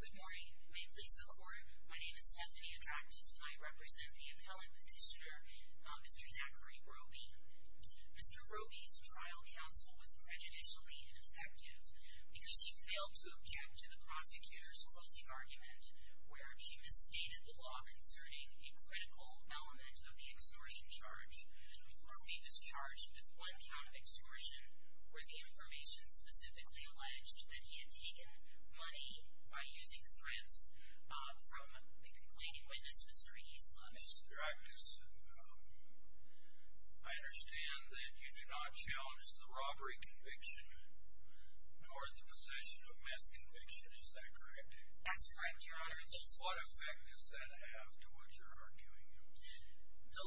Good morning. May it please the court, my name is Stephanie Atractas and I represent the appellate petitioner, Mr. Zachary Robey. Mr. Robey's trial counsel was prejudicially ineffective because he failed to object to the prosecutor's closing argument where she misstated the law concerning a critical element of the exhortion charge. Mr. Atractas, I understand that you do not challenge the robbery conviction nor the possession of meth conviction, is that correct? That's correct, your honor. What effect does that have to what you're arguing? They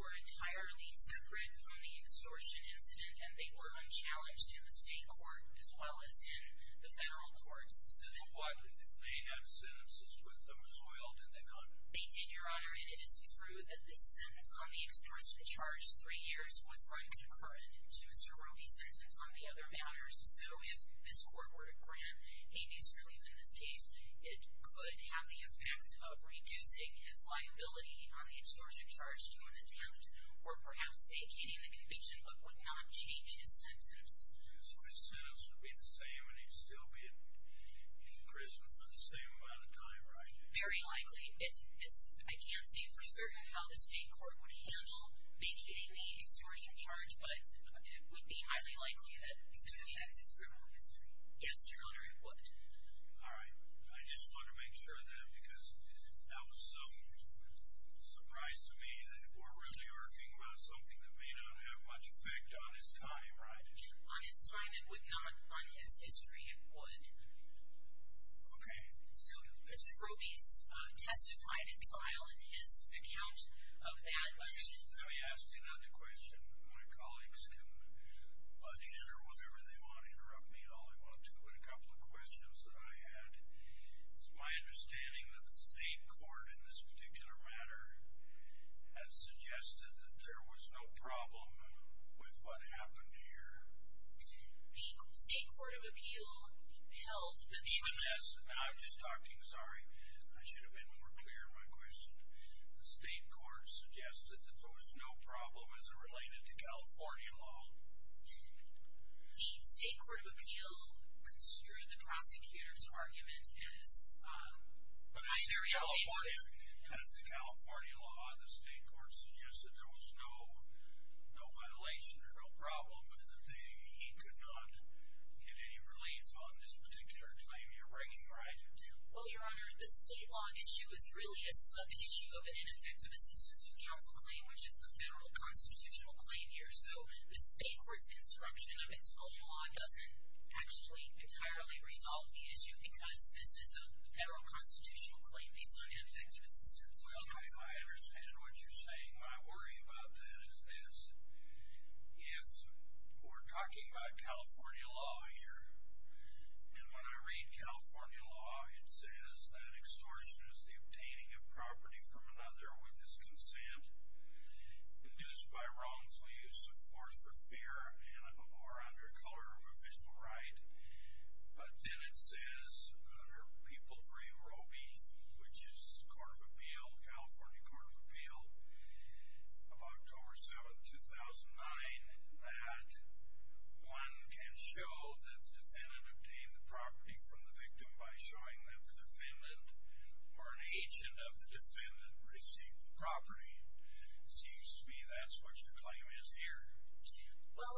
were entirely separate from the extortion incident and they were unchallenged in the state court as well as in the federal courts. But why didn't they have sentences with them as well, did they not? They did, your honor, and it is true that this sentence on the extortion charge, three years, was unconcurrent to Mr. Robey's sentence on the other matters. So if this court were to grant a misrelief in this case, it could have the effect of reducing his liability on the exhortion charge to an attempt or perhaps vacating the conviction but would not change his sentence. So his sentence would be the same and he'd still be in prison for the same amount of time, right? Very likely. I can't say for certain how the state court would handle vacating the exhortion charge, but it would be highly likely that it simply affects his criminal history. Yes, your honor, it would. All right. I just want to make sure of that because that was so surprising to me that we're really arguing about something that may not have much effect on his time. Right. On his time, it would not, on his history, it would. Okay. So Mr. Robey's testified at trial in his account of that. Let me ask you another question. My colleagues can interrupt me all they want to in a couple of questions that I had. It's my understanding that the state court in this particular matter has suggested that there was no problem with what happened here. The state court of appeal held that the- Even as, I'm just talking, sorry, I should have been more clear in my question. The state court suggested that there was no problem as it related to California law. The state court of appeal construed the prosecutor's argument as- But as to California law, the state court suggested there was no violation or no problem, but is it saying he could not get any relief on this particular claim you're bringing, right? Well, Your Honor, the state law issue is really a sub-issue of an ineffective assistance of counsel claim, which is the federal constitutional claim here. So the state court's construction of its own law doesn't actually entirely resolve the issue because this is a federal constitutional claim. These aren't ineffective assistance of counsel claims. I understand what you're saying. My worry about this is if we're talking about California law here, and when I read California law, it says that extortion is the obtaining of property from another with his consent, induced by wrongful use of force or fear, and are under color of official right. But then it says under People v. Robie, which is the California court of appeal of October 7, 2009, that one can show that the defendant obtained the property from the victim by showing that the defendant or an agent of the defendant received the property. It seems to me that's what your claim is here. Well,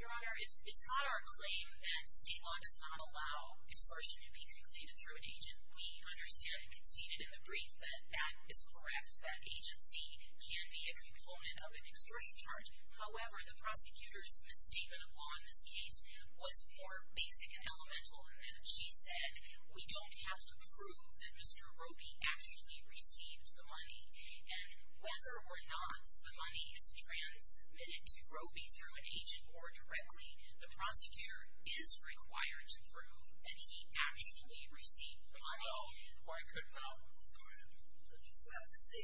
Your Honor, it's not our claim that state law does not allow extortion to be completed through an agent. We understand and conceded in the brief that that is correct, that agency can be a component of an extortion charge. However, the prosecutor's misstatement of law in this case was more basic and elemental. She said we don't have to prove that Mr. Robie actually received the money, and whether or not the money is transmitted to Robie through an agent or directly, the prosecutor is required to prove that he actually received the money. Well, why couldn't I? Your Honor, I'm just about to say,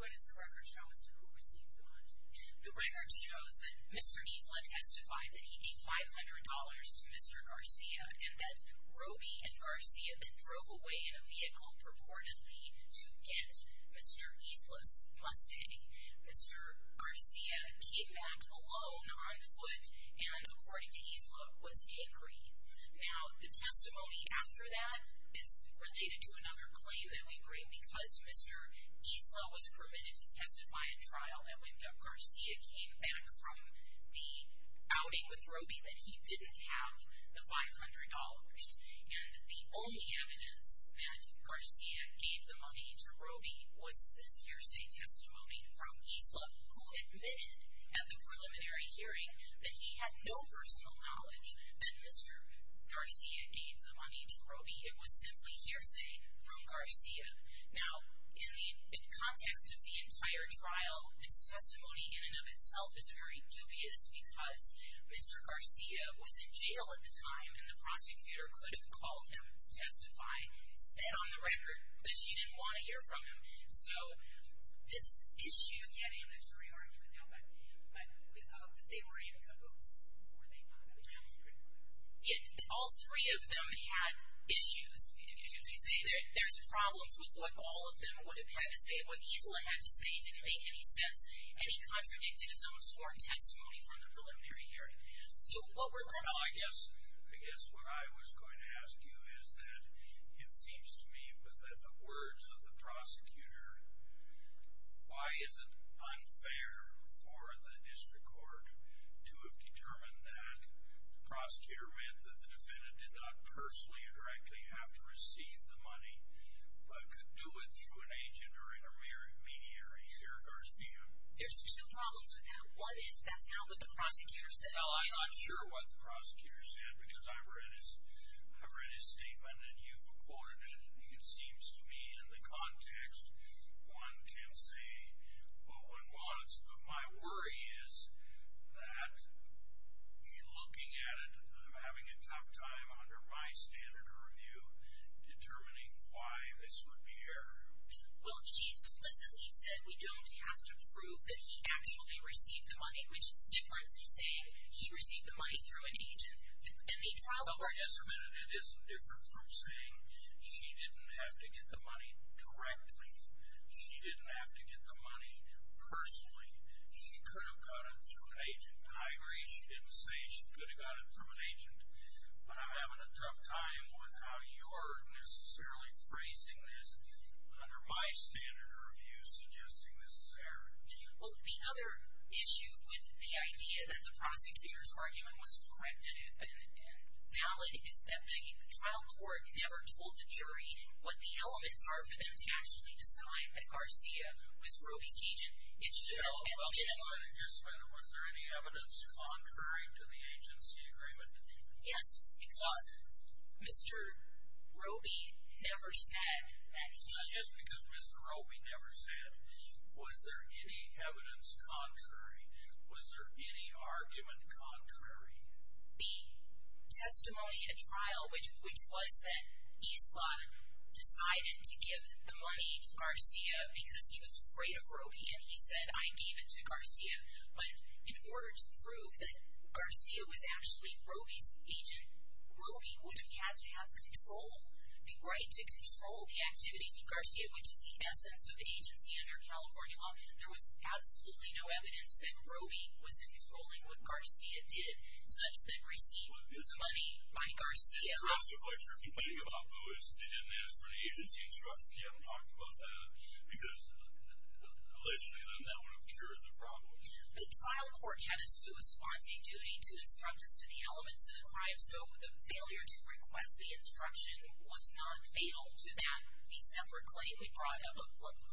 what is the record showing Mr. Robie received the money? The record shows that Mr. Isla testified that he gave $500 to Mr. Garcia and that Robie and Garcia then drove away in a vehicle purportedly to get Mr. Isla's Mustang. Mr. Garcia came back alone on foot and, according to Isla, was angry. Now, the testimony after that is related to another claim that we bring because Mr. Isla was permitted to testify in trial, and when Garcia came back from the outing with Robie, that he didn't have the $500. And the only evidence that Garcia gave the money to Robie was this hearsay testimony from Isla, who admitted at the preliminary hearing that he had no personal knowledge that Mr. Garcia gave the money to Robie. It was simply hearsay from Garcia. Now, in the context of the entire trial, this testimony in and of itself is very dubious because Mr. Garcia was in jail at the time, and the prosecutor could have called him to testify, said on the record that she didn't want to hear from him. So this issue of getting the $300 was a no-no. But they were in cahoots, were they not? All three of them had issues. If you say there's problems with what all of them would have had to say, what Isla had to say didn't make any sense, and he contradicted his own sworn testimony from the preliminary hearing. So what we're going to do is... Well, I guess what I was going to ask you is that it seems to me with the words of the prosecutor, why is it unfair for the district court to have determined that the prosecutor meant that the defendant did not personally or directly have to receive the money, but could do it through an agent or intermediary? Chair Garcia? There's two problems with that. One is that's not what the prosecutor said. Well, I'm not sure what the prosecutor said because I've read his statement, and you've recorded it. It seems to me in the context, one can say what one wants. But my worry is that, looking at it, I'm having a tough time under my standard of review determining why this would be error. Well, she explicitly said we don't have to prove that he actually received the money, which is different from saying he received the money through an agent. Yes, but it isn't different from saying she didn't have to get the money correctly. She didn't have to get the money personally. She could have got it through an agent. I agree she didn't say she could have got it through an agent, but I'm having a tough time with how you're necessarily phrasing this under my standard of review suggesting this is error. Well, the other issue with the idea that the prosecutor's argument was correct and valid is that the trial court never told the jury what the elements are for them to actually decide that Garcia was Roby's agent. It should have been. Yes, but was there any evidence contrary to the agency agreement? Yes, because Mr. Roby never said that he. Yes, because Mr. Roby never said. Was there any evidence contrary? Was there any argument contrary? The testimony at trial, which was that Esquad decided to give the money to Garcia because he was afraid of Roby, and he said, I gave it to Garcia. But in order to prove that Garcia was actually Roby's agent, Roby would have had to have control, the right to control the activities of Garcia, which is the essence of agency under California law. There was absolutely no evidence that Roby was controlling what Garcia did, such that he received the money by Garcia. Did the rest of the folks who are complaining about Lewis, they didn't ask for an agency instruction? You haven't talked about that? Because, allegedly, then that would have cured the problem. The trial court had a corresponding duty to instruct us to the elements of the crime, so the failure to request the instruction was not fatal to that case number claim. It brought up a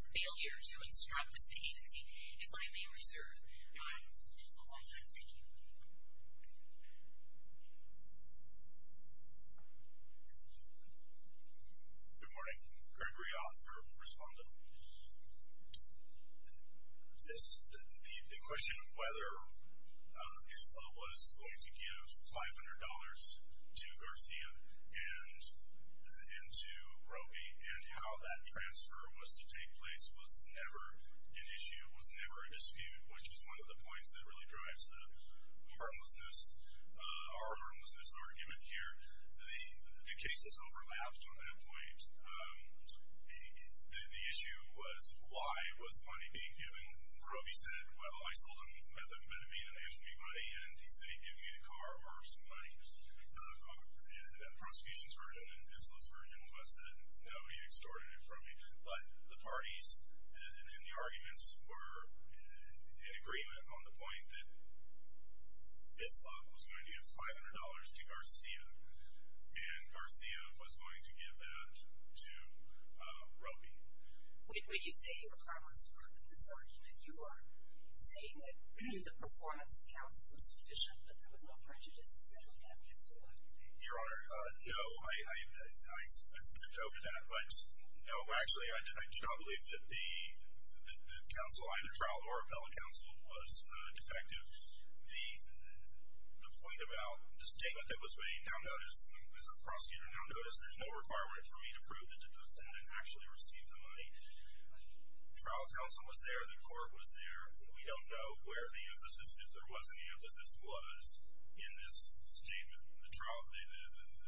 failure to instruct us to agency. If I may reserve a little more time. Thank you. Good morning. Gregory Ott for Respondent. The question of whether ISLA was going to give $500 to Garcia and to Roby and how that transfer was to take place was never an issue, was never a dispute, which was one of the points that really drives the harmlessness argument here. The cases overlapped on that point. The issue was why was the money being given? Roby said, well, I sold him methamphetamine and I gave him the money, and he said he'd give me the car or some money. The prosecution's version and ISLA's version was that, no, he extorted it from me. But the parties and the arguments were in agreement on the point that ISLA was going to give $500 to Garcia, and Garcia was going to give that to Roby. When you say the harmlessness argument, you are saying that the performance of counsel was deficient, that there was no prejudice in scheduling amnesties to Roby. Your Honor, no, I skipped over that. But, no, actually, I do not believe that the counsel, either trial or appellate counsel, was defective. The point about the statement that was made, down-notice, is the prosecutor down-noticed. There's no requirement for me to prove that the defendant actually received the money. Trial counsel was there. The court was there. We don't know where the emphasis, if there was any emphasis, was in this statement. The trial,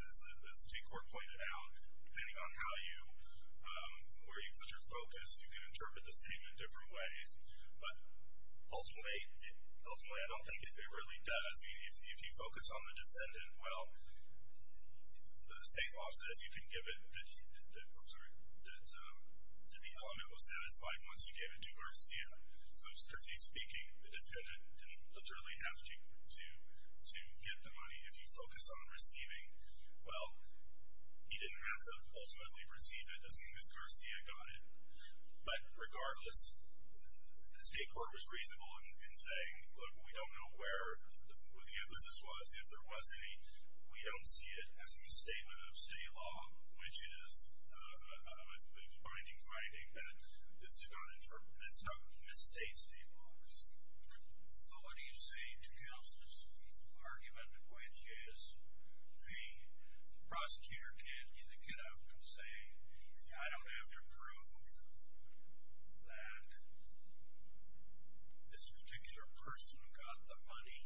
as the state court pointed out, depending on how you, where you put your focus, you can interpret the statement different ways. But, ultimately, I don't think it really does. I mean, if you focus on the defendant, well, the state law says you can give it, that the element was satisfied once you gave it to Garcia. So, strictly speaking, the defendant didn't literally have to give the money. If you focus on receiving, well, he didn't have to ultimately receive it, as long as Garcia got it. But, regardless, the state court was reasonable in saying, look, we don't know where the emphasis was. If there was any, we don't see it as a misstatement of state law, which is a binding finding that is to not misstate state laws. So, what do you say to counsel's argument, which is the prosecutor can't either get up and say, I don't have to prove that this particular person got the money.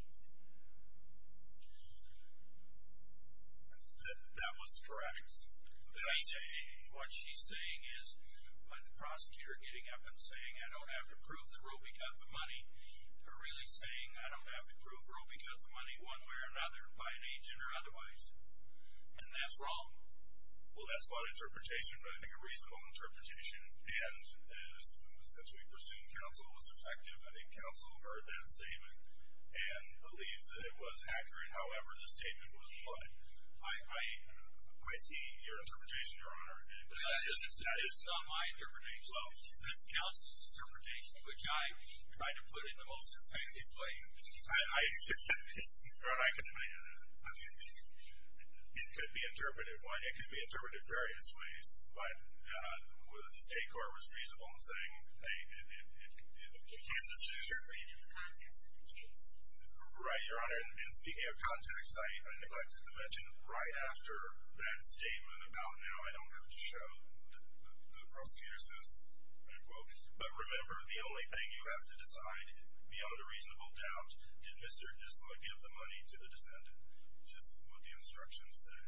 That was sporadic. What she's saying is, by the prosecutor getting up and saying, I don't have to prove that Roby got the money, or really saying, I don't have to prove Roby got the money one way or another, by an agent or otherwise. And that's wrong. Well, that's not an interpretation, but I think a reasonable interpretation. And, since we pursued counsel, it was effective. I think counsel heard that statement and believed that it was accurate, however the statement was applied. I see your interpretation, Your Honor. But that is not my interpretation. Well, that's counsel's interpretation, which I tried to put in the most effective way. It could be interpreted various ways, but whether the state court was reasonable in saying, hey, you can't just use your opinion in the context of the case. Right, Your Honor. And speaking of context, I neglected to mention, right after that statement about now I don't have to show, the prosecutor says, end quote, but remember the only thing you have to decide, beyond a reasonable doubt, did Mr. Disluk give the money to the defendant, which is what the instructions say.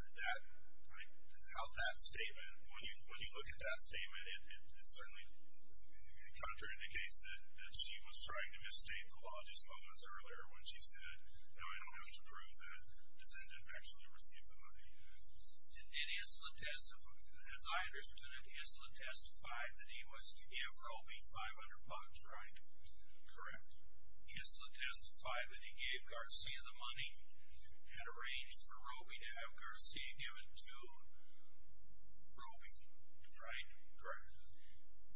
And that, like, how that statement, when you look at that statement, it certainly counterindicates that she was trying to misstate the law just moments earlier when she said, no, I don't have to prove that defendant actually received the money. Did Isla testify, as I understand it, Isla testified that he was to give Roby $500, right? Correct. Isla testified that he gave Garcia the money, had arranged for Roby to have Garcia give it to Roby, right? Correct.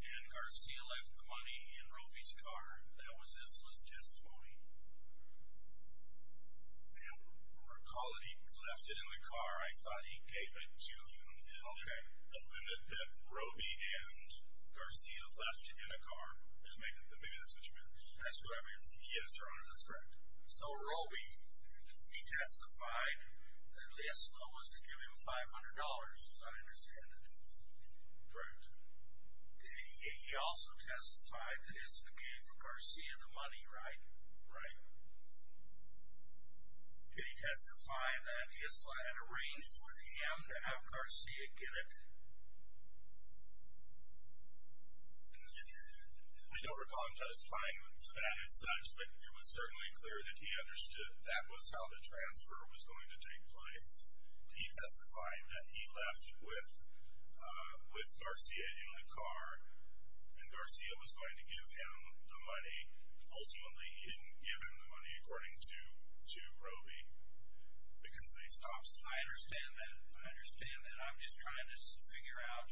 And Garcia left the money in Roby's car. That was Isla's testimony. And recall that he left it in the car. I thought he gave it to him. Okay. The limit that Roby and Garcia left in a car, maybe that's what you meant. That's what I mean. Yes, Your Honor, that's correct. So Roby, he testified that Isla was to give him $500, as I understand it. Correct. He also testified that Isla gave Garcia the money, right? Right. Did he testify that Isla had arranged for him to have Garcia give it? I don't recall him testifying to that as such, but it was certainly clear that he understood that was how the transfer was going to take place. He testified that he left it with Garcia in the car, and Garcia was going to give him the money. Ultimately, he didn't give him the money, according to Roby, because they stopped signing. I understand that. I understand that. I'm just trying to figure out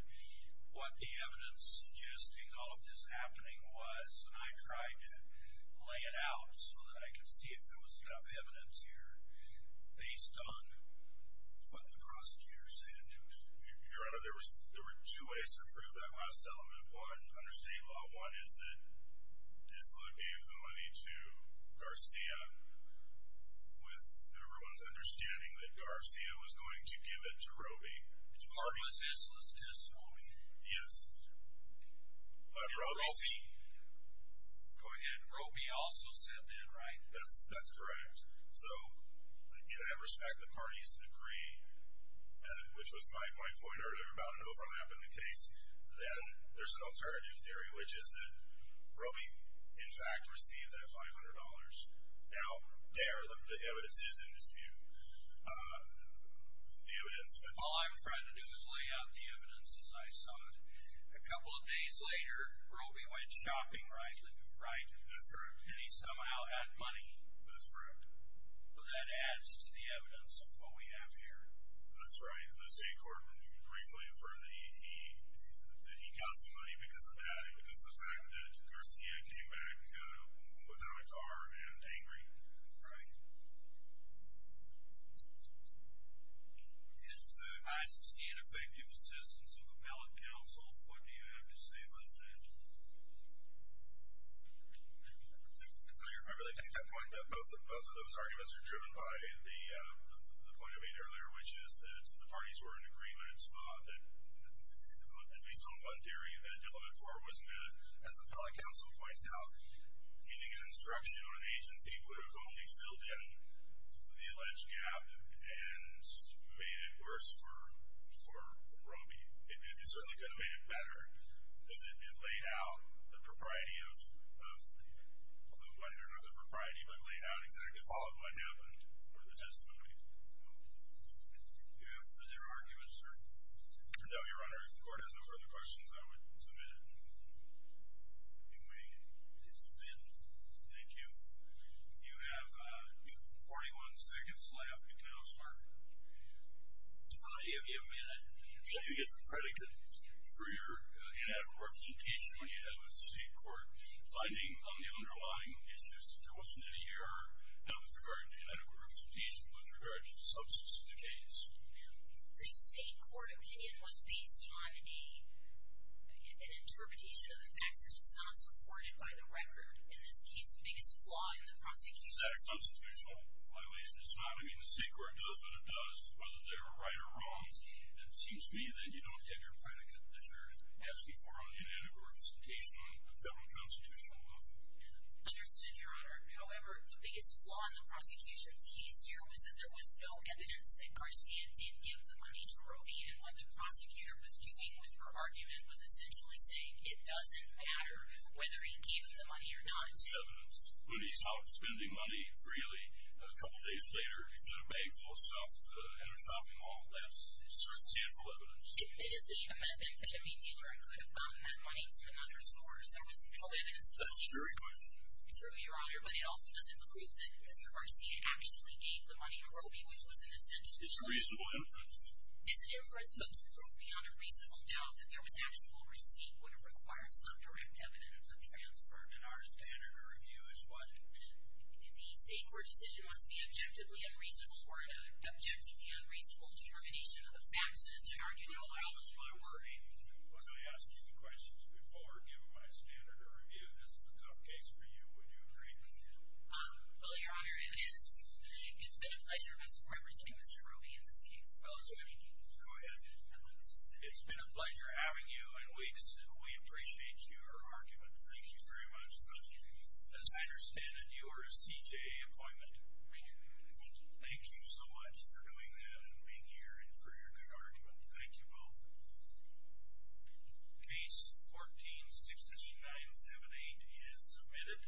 what the evidence suggesting all of this happening was, and I tried to lay it out so that I could see if there was enough evidence here based on what the prosecutor is saying. Your Honor, there were two ways to prove that last element. One, under state law, one is that Isla gave the money to Garcia with everyone's understanding that Garcia was going to give it to Roby. Or was Isla's testimony? Yes. Go ahead. Roby also said that, right? That's correct. So, in that respect, the parties agree, which was my point earlier about an overlap in the case. Then there's an alternative theory, which is that Roby, in fact, received that $500. Now, there, the evidence is in dispute. The evidence. All I'm trying to do is lay out the evidence as I saw it. A couple of days later, Roby went shopping, right, That's correct. And he somehow had money. That's correct. That adds to the evidence of what we have here. That's right. The state court briefly affirmed that he got the money because of that, because of the fact that Garcia came back without a car and angry. That's right. If the highest ineffective assistance of the appellate council, what do you have to say about that? I really think that point, that both of those arguments are driven by the point I made earlier, which is that the parties were in agreement, at least on one theory, that WFOR was met. As the appellate council points out, giving an instruction on the agency would have only filled in the alleged gap and made it worse for Roby. It certainly could have made it better, because it laid out the propriety of the money, or not the propriety, but laid out exactly followed what happened, or the testimony. Do you have further arguments for WRunner? If the court has no further questions, I would submit it. If you may submit. Thank you. You have 41 seconds left, counselor. I'll give you a minute. If you get the predicate for your inadequate representation when you head with the state court, finding on the underlying issues that there wasn't any error, not with regard to inadequate representation, but with regard to the substance of the case. The state court opinion was based on an interpretation of the facts, which is not supported by the record. In this case, the biggest flaw of the prosecution's case. It's not a constitutional violation, it's not. I mean, the state court knows what it does, whether they were right or wrong. It seems to me that you don't get your predicate that you're asking for on the inadequate representation on a federal and constitutional level. Understood, Your Honor. However, the biggest flaw in the prosecution's case here was that there was no evidence that Garcia did give the money to Roe V. And what the prosecutor was doing with her argument was essentially saying it doesn't matter whether he gave you the money or not. There's evidence. Rudy's out spending money freely a couple days later in a bag full of stuff at a shopping mall. That's substantial evidence. Admittedly, a methamphetamine dealer could have gotten that money from another source. There was no evidence that he did. That's a jury question. It's true, Your Honor, but it also doesn't prove that Mr. Garcia actually gave the money to Roe V, which was an essential evidence. It's a reasonable inference. It's an inference, but it doesn't prove beyond a reasonable doubt that there was actual receipt would have required some direct evidence of transfer. And our standard of review is what? The state court decision must be objectively unreasonable or an objectively unreasonable determination of the facts that is an argument of the court. No, that was my wording. Was I asking you questions before giving my standard of review? This is a tough case for you. Would you agree? Well, Your Honor, it's been a pleasure representing Mr. Roe V in this case. Well, go ahead. It's been a pleasure having you, and we appreciate your argument. Thank you very much. As I understand it, you are a CJA employment. I am. Thank you so much for doing that and being here and for your good argument. Thank you both. Case 14-6978 is submitted.